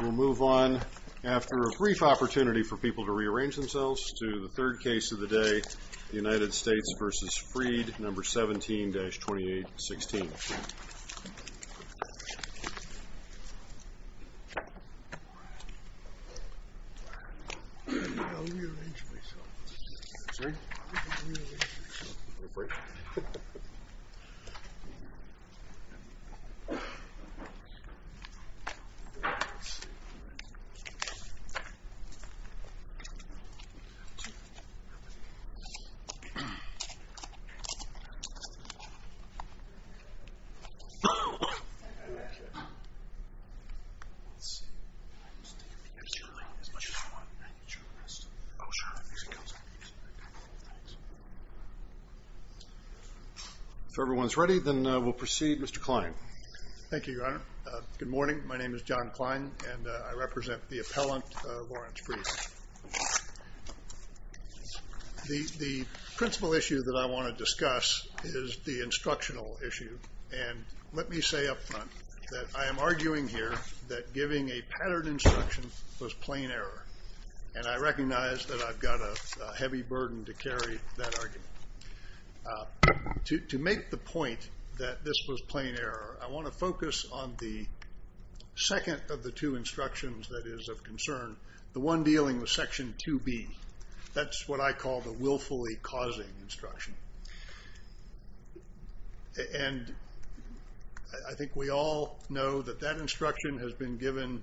We'll move on after a brief opportunity for people to rearrange themselves to the third case of the day, United States v. Freed, No. 17-2816. If everyone's ready, then we'll proceed. Mr. Kline. Thank you, Your Honor. Good morning. My name is John Kline, and I represent the appellant, Laurance Freed. The principal issue that I want to discuss is the instructional issue. And let me say up front that I am arguing here that giving a pattern instruction was plain error, and I recognize that I've got a heavy burden to carry that argument. To make the point that this was plain error, I want to focus on the second of the two instructions that is of concern. The one dealing with Section 2B. That's what I call the willfully causing instruction. And I think we all know that that instruction has been given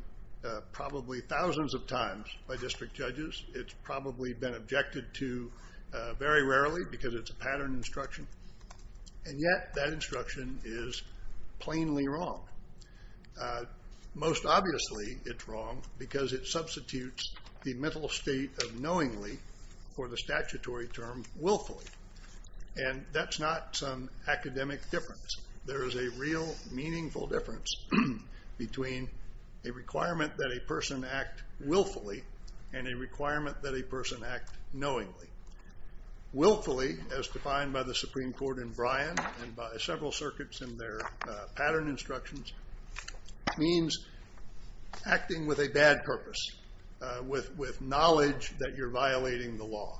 probably thousands of times by district judges. It's probably been objected to very rarely because it's a pattern instruction. And yet that instruction is plainly wrong. Most obviously it's wrong because it substitutes the mental state of knowingly for the statutory term willfully. And that's not some academic difference. There is a real meaningful difference between a requirement that a person act willfully and a requirement that a person act knowingly. Willfully, as defined by the Supreme Court in Bryan and by several circuits in their pattern instructions, means acting with a bad purpose, with knowledge that you're violating the law.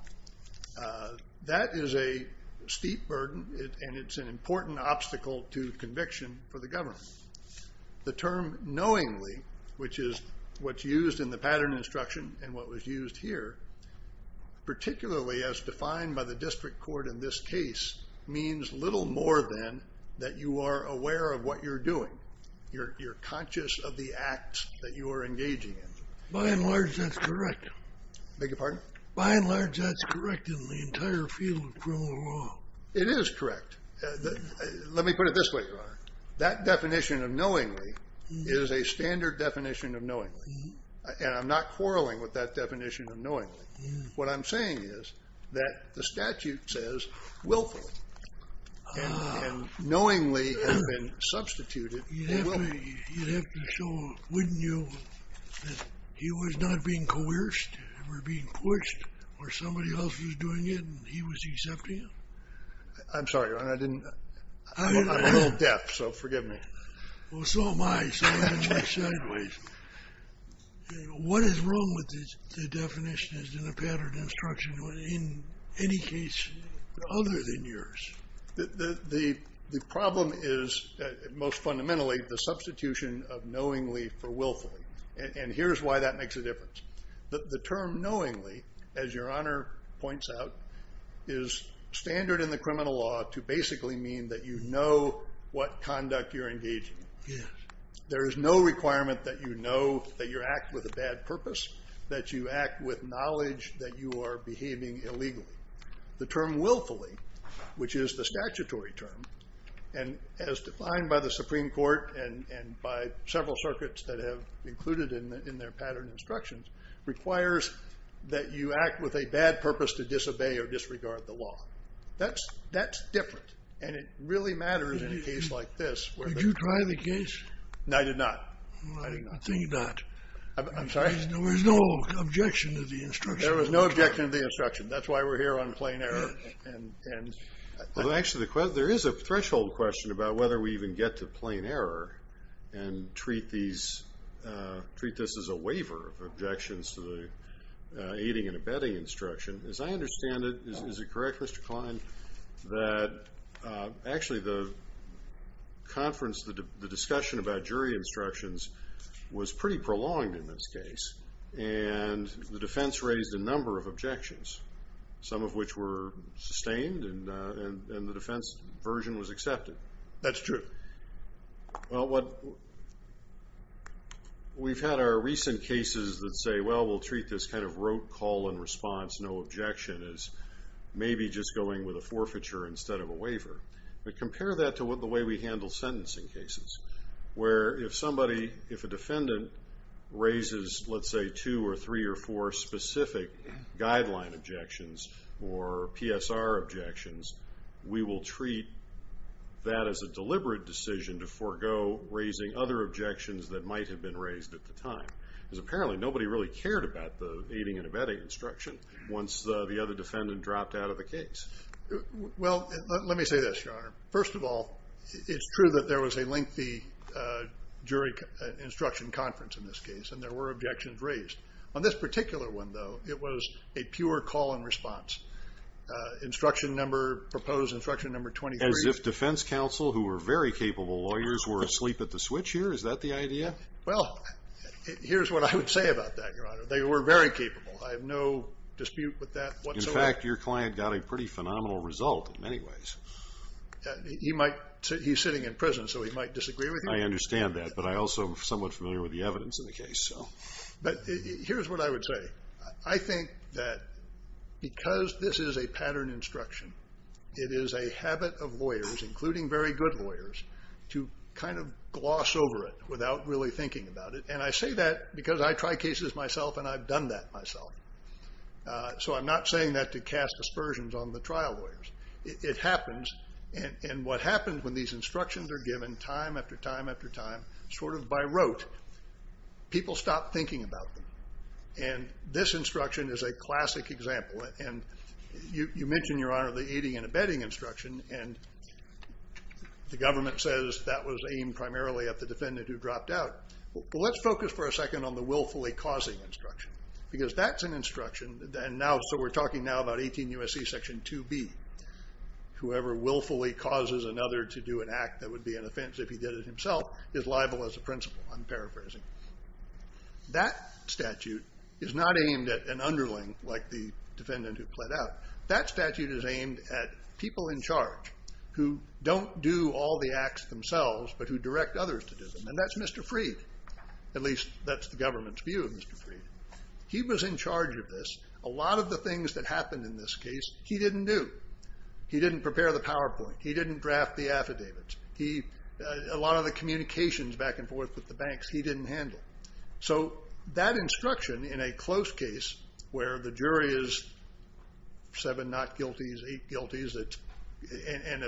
That is a steep burden, and it's an important obstacle to conviction for the government. The term knowingly, which is what's used in the pattern instruction and what was used here, particularly as defined by the district court in this case, means little more than that you are aware of what you're doing. You're conscious of the act that you are engaging in. By and large, that's correct. Beg your pardon? By and large, that's correct in the entire field of criminal law. It is correct. Let me put it this way, Your Honor. That definition of knowingly is a standard definition of knowingly, and I'm not quarreling with that definition of knowingly. What I'm saying is that the statute says willfully, and knowingly has been substituted for willfully. You'd have to show, wouldn't you, that he was not being coerced or being pushed or somebody else was doing it and he was accepting it? I'm sorry, Your Honor. I'm a little deaf, so forgive me. Well, so am I. What is wrong with the definition in the pattern instruction in any case other than yours? The problem is most fundamentally the substitution of knowingly for willfully, and here's why that makes a difference. The term knowingly, as Your Honor points out, is standard in the criminal law to basically mean that you know what conduct you're engaging in. There is no requirement that you know that you act with a bad purpose, that you act with knowledge that you are behaving illegally. The term willfully, which is the statutory term, and as defined by the Supreme Court and by several circuits that have included in their pattern instructions, requires that you act with a bad purpose to disobey or disregard the law. That's different, and it really matters in a case like this. Did you try the case? No, I did not. I'm sorry? There was no objection to the instruction. That's why we're here on plain error. Actually, there is a threshold question about whether we even get to plain error and treat this as a waiver of objections to the aiding and abetting instruction. As I understand it, is it correct, Mr. Kline, that actually the conference, the discussion about jury instructions was pretty prolonged in this case, and the defense raised a number of objections, some of which were sustained, and the defense version was accepted? That's true. Well, we've had our recent cases that say, well, we'll treat this kind of rote call and response, no objection, as maybe just going with a forfeiture instead of a waiver. But compare that to the way we handle sentencing cases, where if somebody, if a defendant raises, let's say, two or three or four specific guideline objections or PSR objections, we will treat that as a deliberate decision to forego raising other objections that might have been raised at the time, because apparently nobody really cared about the aiding and abetting instruction once the other defendant dropped out of the case. Well, let me say this, Your Honor. First of all, it's true that there was a lengthy jury instruction conference in this case, and there were objections raised. On this particular one, though, it was a pure call and response. Instruction number, proposed instruction number 23. As if defense counsel, who were very capable lawyers, were asleep at the switch here? Is that the idea? Well, here's what I would say about that, Your Honor. They were very capable. I have no dispute with that whatsoever. In fact, your client got a pretty phenomenal result in many ways. He's sitting in prison, so he might disagree with you. I understand that, but I also am somewhat familiar with the evidence in the case. But here's what I would say. I think that because this is a pattern instruction, it is a habit of lawyers, including very good lawyers, to kind of gloss over it without really thinking about it. And I say that because I try cases myself, and I've done that myself. So I'm not saying that to cast aspersions on the trial lawyers. It happens. And what happens when these instructions are given time after time after time, sort of by rote, people stop thinking about them. And this instruction is a classic example. And you mentioned, Your Honor, the eating and abetting instruction, and the government says that was aimed primarily at the defendant who dropped out. Well, let's focus for a second on the willfully causing instruction, because that's an instruction. So we're talking now about 18 U.S.C. Section 2B. Whoever willfully causes another to do an act that would be an offense if he did it himself is liable as a principal. I'm paraphrasing. That statute is not aimed at an underling like the defendant who pled out. That statute is aimed at people in charge who don't do all the acts themselves, but who direct others to do them, and that's Mr. Freed. At least that's the government's view of Mr. Freed. He was in charge of this. A lot of the things that happened in this case he didn't do. He didn't prepare the PowerPoint. He didn't draft the affidavits. A lot of the communications back and forth with the banks he didn't handle. So that instruction in a close case where the jury is seven not guilties, eight guilties, and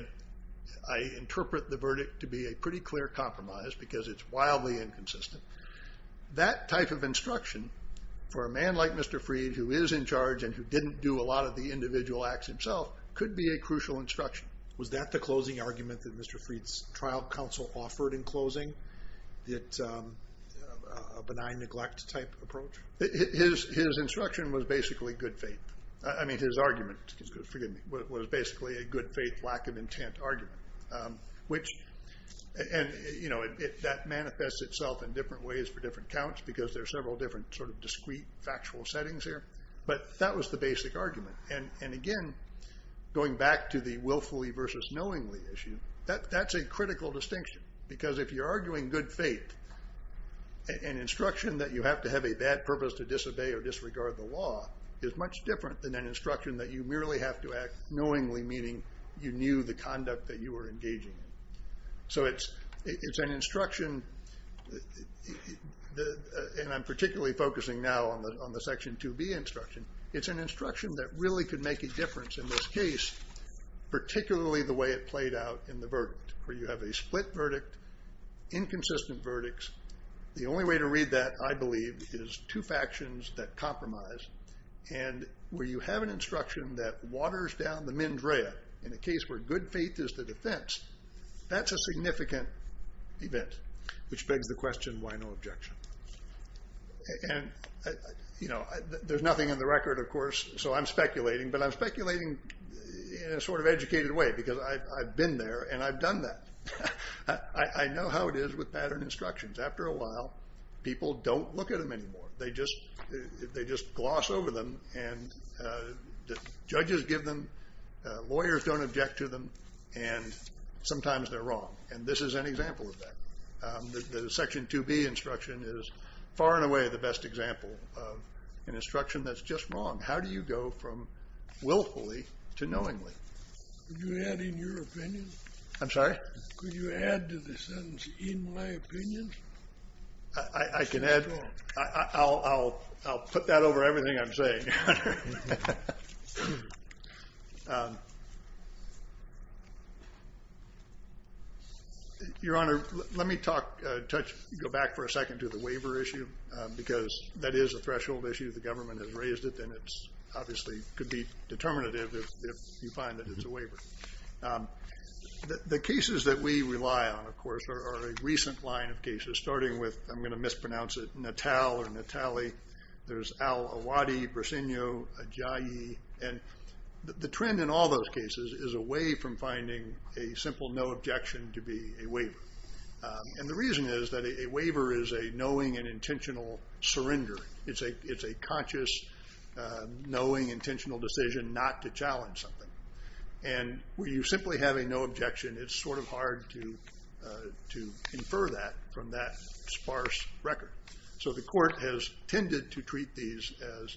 I interpret the verdict to be a pretty clear compromise because it's wildly inconsistent, that type of instruction for a man like Mr. Freed who is in charge and who didn't do a lot of the individual acts himself could be a crucial instruction. Was that the closing argument that Mr. Freed's trial counsel offered in closing, a benign neglect type approach? His instruction was basically good faith. I mean his argument, forgive me, was basically a good faith lack of intent argument, which that manifests itself in different ways for different counts because there are several different sort of discrete factual settings here, but that was the basic argument. And again, going back to the willfully versus knowingly issue, that's a critical distinction because if you're arguing good faith, an instruction that you have to have a bad purpose to disobey or disregard the law is much different than an instruction that you merely have to act knowingly, meaning you knew the conduct that you were engaging in. So it's an instruction, and I'm particularly focusing now on the Section 2B instruction, it's an instruction that really could make a difference in this case, particularly the way it played out in the verdict, where you have a split verdict, inconsistent verdicts. The only way to read that, I believe, is two factions that compromise, and where you have an instruction that waters down the mens rea in a case where good faith is the defense, that's a significant event, which begs the question, why no objection? And, you know, there's nothing in the record, of course, so I'm speculating, but I'm speculating in a sort of educated way because I've been there and I've done that. I know how it is with pattern instructions. After a while, people don't look at them anymore. They just gloss over them, and judges give them, lawyers don't object to them, and sometimes they're wrong, and this is an example of that. The Section 2B instruction is far and away the best example of an instruction that's just wrong. How do you go from willfully to knowingly? Could you add in your opinion? I'm sorry? Could you add to the sentence, in my opinion? I can add. I'll put that over everything I'm saying. Your Honor, let me go back for a second to the waiver issue because that is a threshold issue, the government has raised it, and it obviously could be determinative if you find that it's a waiver. The cases that we rely on, of course, are a recent line of cases, starting with, I'm going to mispronounce it, Natal or Natali. There's Al-Awadi, Briceño, Ajayi, and the trend in all those cases is away from finding a simple no objection to be a waiver, and the reason is that a waiver is a knowing and intentional surrender. It's a conscious, knowing, intentional decision not to challenge something. And when you simply have a no objection, it's sort of hard to infer that from that sparse record. So the court has tended to treat these as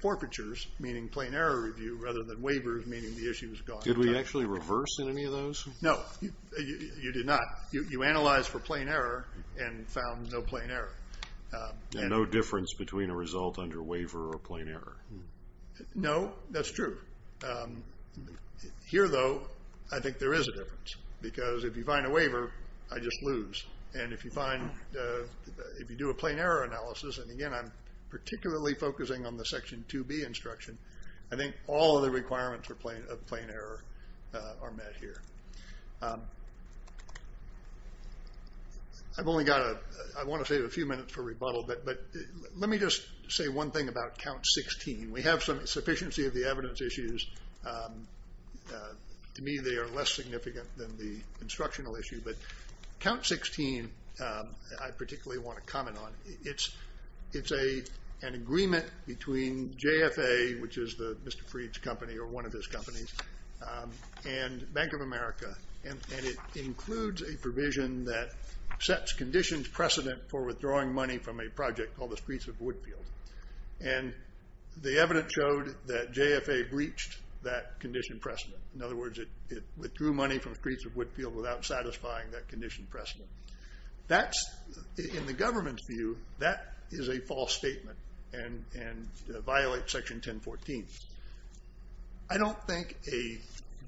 forfeitures, meaning plain error review, rather than waivers, meaning the issue is gone. Did we actually reverse any of those? No, you did not. You analyzed for plain error and found no plain error. And no difference between a result under waiver or plain error. No, that's true. Here, though, I think there is a difference, because if you find a waiver, I just lose. And if you find, if you do a plain error analysis, and again I'm particularly focusing on the Section 2B instruction, I think all of the requirements of plain error are met here. I've only got a, I want to save a few minutes for rebuttal, but let me just say one thing about count 16. We have some sufficiency of the evidence issues. To me, they are less significant than the instructional issue, but count 16 I particularly want to comment on. It's an agreement between JFA, which is Mr. Fried's company, or one of his companies, and Bank of America, and it includes a provision that sets conditions precedent for withdrawing money from a project called the Streets of Woodfield. And the evidence showed that JFA breached that condition precedent. In other words, it withdrew money from Streets of Woodfield without satisfying that condition precedent. That's, in the government's view, that is a false statement and violates Section 1014. I don't think a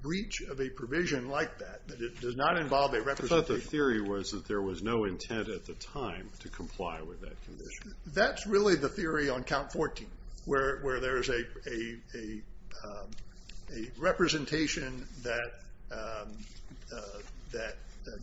breach of a provision like that, that it does not involve a representation. I thought the theory was that there was no intent at the time to comply with that condition. That's really the theory on count 14, where there is a representation that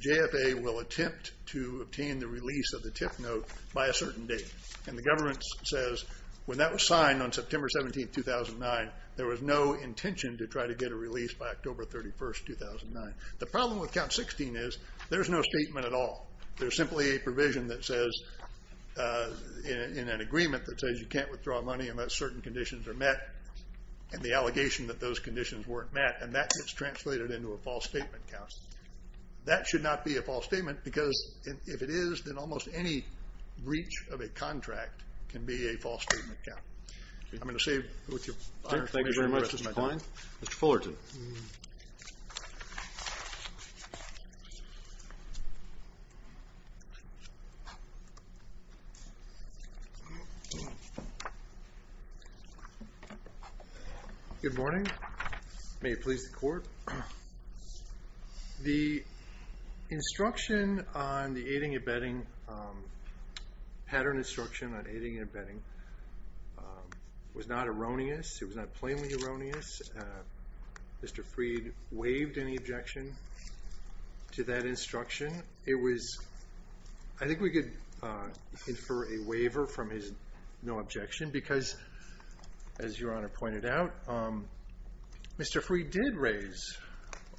JFA will attempt to obtain the release of the tip note by a certain date. And the government says, when that was signed on September 17, 2009, there was no intention to try to get a release by October 31, 2009. The problem with count 16 is there is no statement at all. There is simply a provision that says, in an agreement, that says you can't withdraw money unless certain conditions are met, and the allegation that those conditions weren't met, and that gets translated into a false statement count. That should not be a false statement, because if it is, then almost any breach of a contract can be a false statement count. I'm going to leave with your honor. Thank you very much, Mr. Kline. Mr. Fullerton. Good morning. May it please the Court. The instruction on the pattern instruction on aiding and abetting was not erroneous. It was not plainly erroneous. Mr. Freed waived any objection to that instruction. I think we could infer a waiver from his no objection, because, as your honor pointed out, Mr. Freed did raise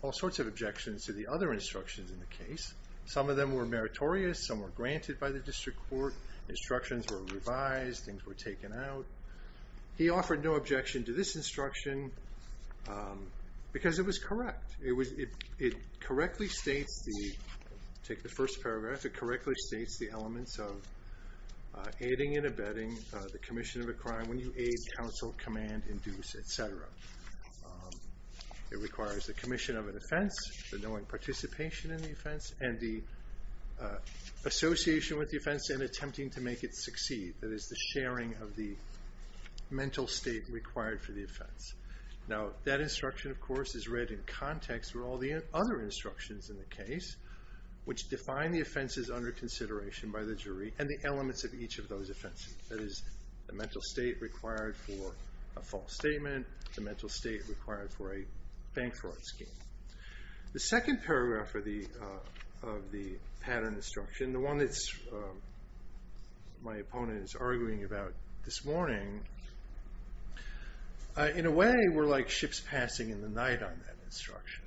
all sorts of objections to the other instructions in the case. Some of them were meritorious. Some were granted by the district court. Instructions were revised. Things were taken out. He offered no objection to this instruction, because it was correct. It correctly states the elements of aiding and abetting. The commission of a crime when you aid, counsel, command, induce, et cetera. It requires the commission of an offense, the knowing participation in the offense, and the association with the offense and attempting to make it succeed. That is, the sharing of the mental state required for the offense. Now, that instruction, of course, is read in context with all the other instructions in the case, which define the offenses under consideration by the jury and the elements of each of those offenses. That is, the mental state required for a false statement, the mental state required for a bank fraud scheme. The second paragraph of the pattern instruction, the one that my opponent is arguing about this morning, in a way we're like ships passing in the night on that instruction.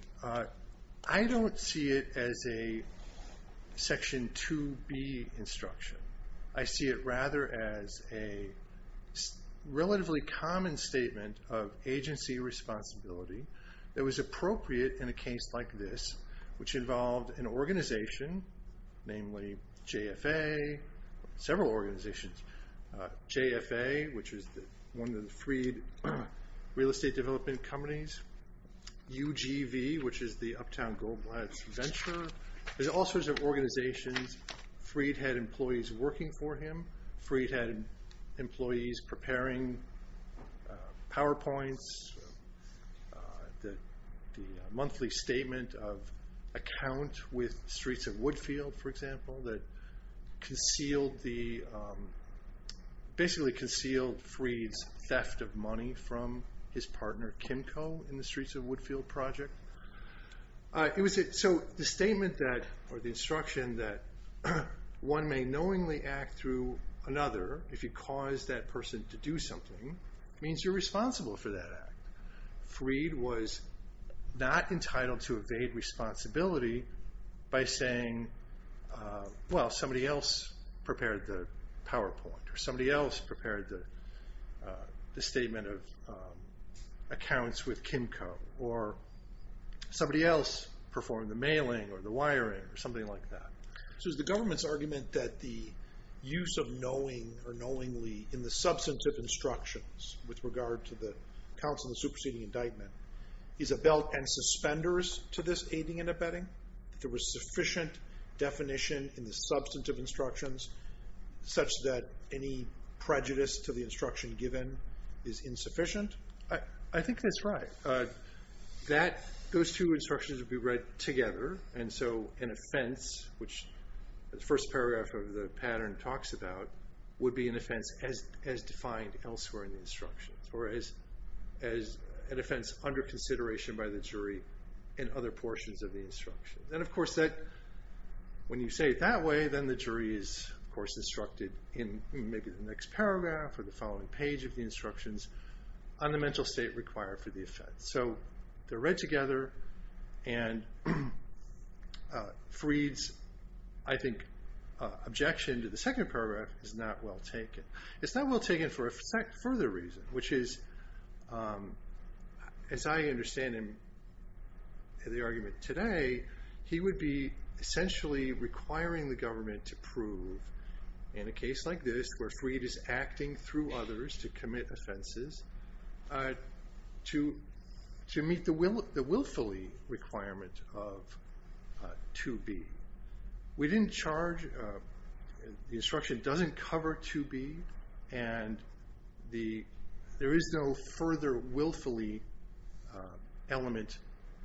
I don't see it as a Section 2B instruction. I see it, rather, as a relatively common statement of agency responsibility that was appropriate in a case like this, which involved an organization, namely JFA, several organizations. JFA, which is one of the Freed real estate development companies. UGV, which is the Uptown Goldblatt Venture. There's all sorts of organizations. Freed had employees working for him. Freed had employees preparing PowerPoints, the monthly statement of account with Streets of Woodfield, for example, that basically concealed Freed's theft of money from his partner, Kimco, in the Streets of Woodfield project. So the statement that, or the instruction that one may knowingly act through another if you cause that person to do something means you're responsible for that act. Freed was not entitled to evade responsibility by saying, well, somebody else prepared the PowerPoint, or somebody else prepared the statement of accounts with Kimco, or somebody else performed the mailing or the wiring or something like that. So is the government's argument that the use of knowingly in the substantive instructions with regard to the counts of the superseding indictment is a belt and suspenders to this aiding and abetting? That there was sufficient definition in the substantive instructions such that any prejudice to the instruction given is insufficient? I think that's right. Those two instructions would be read together. And so an offense, which the first paragraph of the pattern talks about, would be an offense as defined elsewhere in the instructions, or as an offense under consideration by the jury in other portions of the instructions. And, of course, when you say it that way, then the jury is, of course, instructed in maybe the next paragraph or the following page of the instructions on the mental state required for the offense. So they're read together, and Freed's, I think, objection to the second paragraph is not well taken. It's not well taken for a further reason, which is, as I understand the argument today, he would be essentially requiring the government to prove in a case like this where Freed is acting through others to commit offenses to meet the willfully requirement of 2B. We didn't charge, the instruction doesn't cover 2B, and there is no further willfully element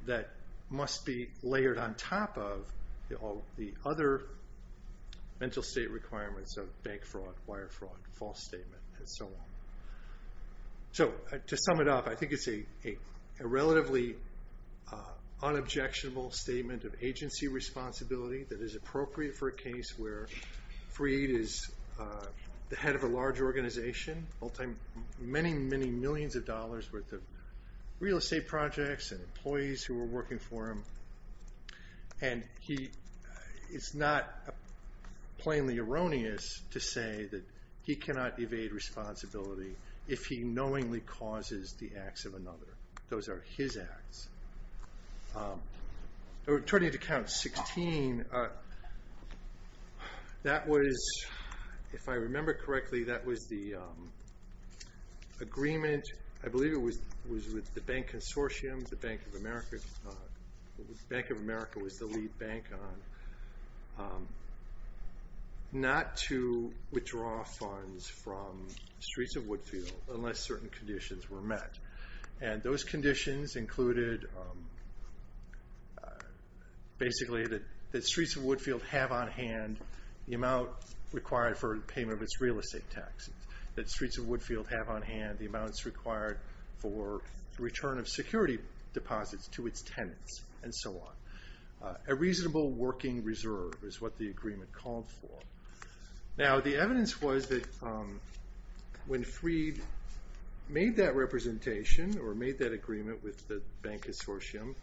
that must be layered on top of all the other mental state requirements of bank fraud, wire fraud, false statement, and so on. So, to sum it up, I think it's a relatively unobjectionable statement of agency responsibility that is appropriate for a case where Freed is the head of a large organization, many, many millions of dollars worth of real estate projects and employees who are working for him, and it's not plainly erroneous to say that he cannot evade responsibility if he knowingly causes the acts of another. Those are his acts. Returning to count 16, that was, if I remember correctly, that was the agreement, I believe it was with the bank consortium, the Bank of America was the lead bank on, not to withdraw funds from Streets of Woodfield unless certain conditions were met. And those conditions included basically that Streets of Woodfield have on hand the amount required for payment of its real estate taxes, that Streets of Woodfield have on hand the amounts required for the return of security deposits to its tenants, and so on. A reasonable working reserve is what the agreement called for. Now, the evidence was that when Freed made that representation, or made that agreement with the bank consortium,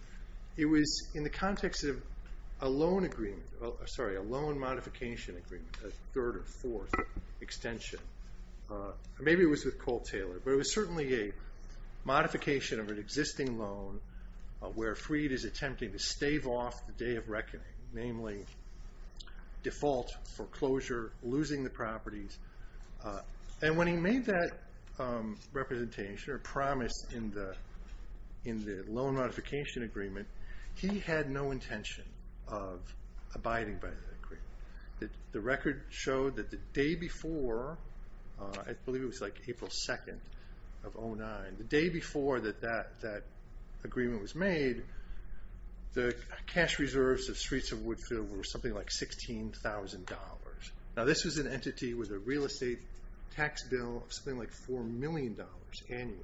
it was in the context of a loan agreement, a third or fourth extension. Maybe it was with Cole Taylor, but it was certainly a modification of an existing loan where Freed is attempting to stave off the day of reckoning, namely default, foreclosure, losing the properties. And when he made that representation or promise in the loan modification agreement, he had no intention of abiding by that agreement. The record showed that the day before, I believe it was like April 2nd of 2009, the day before that agreement was made, the cash reserves of Streets of Woodfield were something like $16,000. Now this was an entity with a real estate tax bill of something like $4 million annually.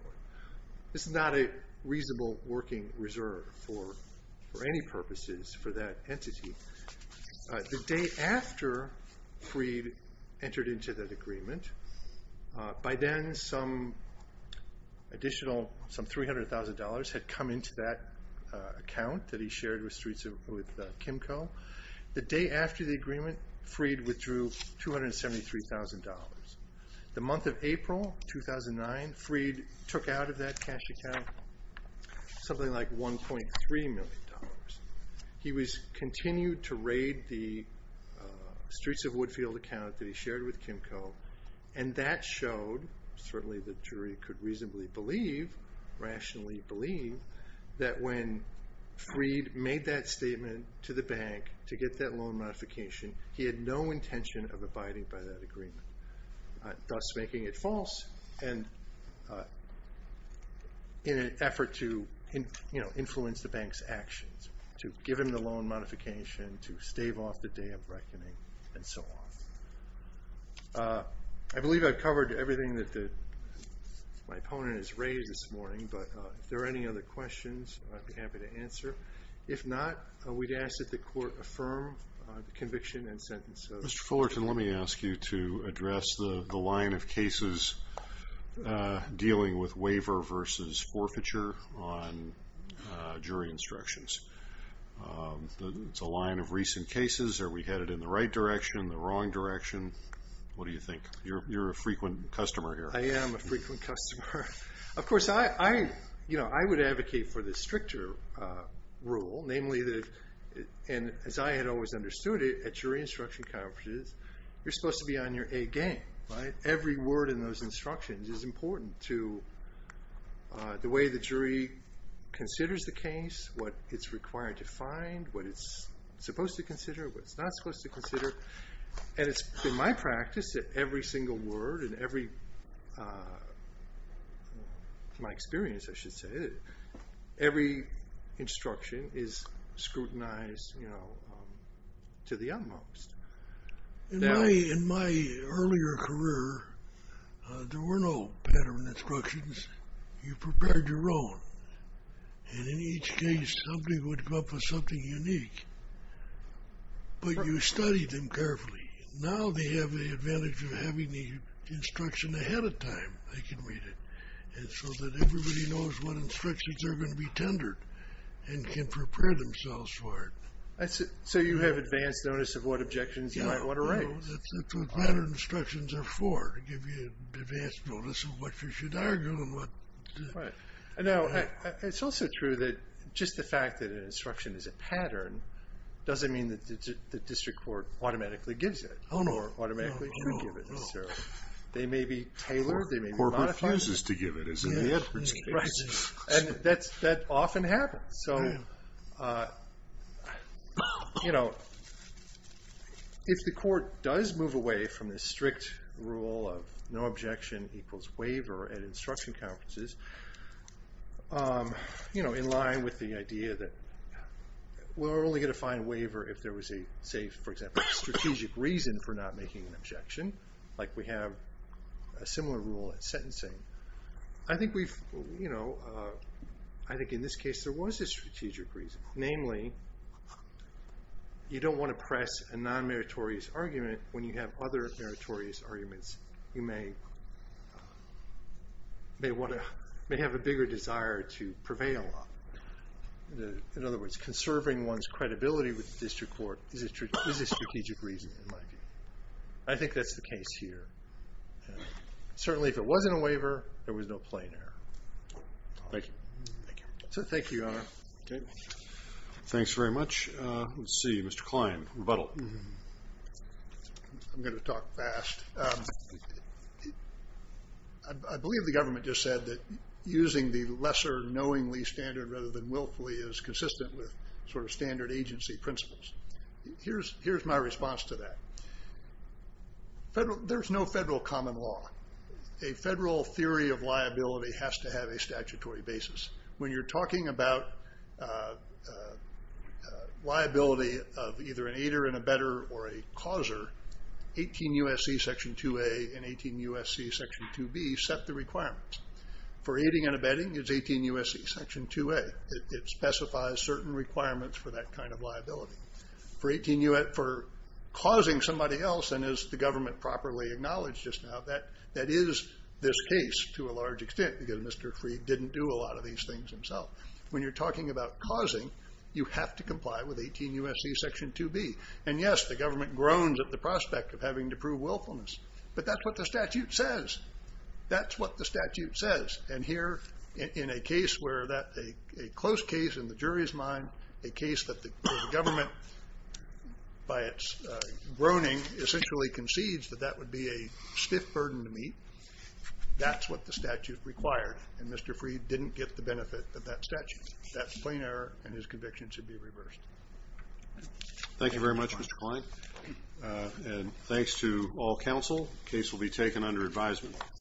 This is not a reasonable working reserve for any purposes for that entity. The day after Freed entered into that agreement, by then some additional $300,000 had come into that account that he shared with Kimco. The day after the agreement, Freed withdrew $273,000. The month of April 2009, Freed took out of that cash account something like $1.3 million. He continued to raid the Streets of Woodfield account that he shared with Kimco, and that showed, certainly the jury could reasonably believe, rationally believe, that when Freed made that statement to the bank to get that loan modification, he had no intention of abiding by that agreement, thus making it false in an effort to influence the bank's actions, to give him the loan modification, to stave off the day of reckoning, and so on. I believe I've covered everything that my opponent has raised this morning, but if there are any other questions, I'd be happy to answer. If not, we'd ask that the court affirm the conviction and sentence. Mr. Fullerton, let me ask you to address the line of cases dealing with waiver versus forfeiture on jury instructions. It's a line of recent cases. Are we headed in the right direction, the wrong direction? What do you think? You're a frequent customer here. I am a frequent customer. Of course, I would advocate for the stricter rule, namely that, as I had always understood it at jury instruction conferences, you're supposed to be on your A game. Every word in those instructions is important to the way the jury considers the case, what it's required to find, what it's supposed to consider, what it's not supposed to consider. And it's been my practice that every single word and every, from my experience, I should say, every instruction is scrutinized to the utmost. In my earlier career, there were no pattern instructions. You prepared your own. And in each case, somebody would come up with something unique. But you studied them carefully. Now they have the advantage of having the instruction ahead of time. They can read it. And so that everybody knows what instructions are going to be tendered and can prepare themselves for it. So you have advanced notice of what objections you might want to raise. That's what pattern instructions are for, to give you advanced notice of what you should argue and what. Now, it's also true that just the fact that an instruction is a pattern doesn't mean that the district court automatically gives it or automatically can give it necessarily. They may be tailored. They may be modified. The court refuses to give it, as in the Edwards case. Right. And that often happens. So, you know, if the court does move away from the strict rule of no objection equals waiver at instruction conferences, you know, in line with the idea that we're only going to find waiver if there was a, say, for example, strategic reason for not making an objection. Like we have a similar rule at sentencing. I think we've, you know, I think in this case there was a strategic reason. Namely, you don't want to press a non-meritorious argument when you have other meritorious arguments. You may have a bigger desire to prevail on. In other words, conserving one's credibility with the district court is a strategic reason, in my view. I think that's the case here. Certainly, if it wasn't a waiver, there was no plain error. Thank you. Thank you. Thank you, Your Honor. Okay. Thanks very much. Let's see. Mr. Klein, rebuttal. I'm going to talk fast. I believe the government just said that using the lesser knowingly standard rather than willfully is consistent with sort of standard agency principles. Here's my response to that. There's no federal common law. A federal theory of liability has to have a statutory basis. When you're talking about liability of either an aider and abetter or a causer, 18 U.S.C. Section 2A and 18 U.S.C. Section 2B set the requirements. For aiding and abetting, it's 18 U.S.C. Section 2A. It specifies certain requirements for that kind of liability. For causing somebody else, and as the government properly acknowledged just now, that is this case to a large extent because Mr. Freed didn't do a lot of these things himself. When you're talking about causing, you have to comply with 18 U.S.C. Section 2B. And, yes, the government groans at the prospect of having to prove willfulness, but that's what the statute says. That's what the statute says. And here in a case where a close case in the jury's mind, a case that the government, by its groaning, essentially concedes that that would be a stiff burden to meet, that's what the statute required. And Mr. Freed didn't get the benefit of that statute. That's plain error, and his conviction should be reversed. Thank you very much, Mr. Kline. And thanks to all counsel. The case will be taken under advisement.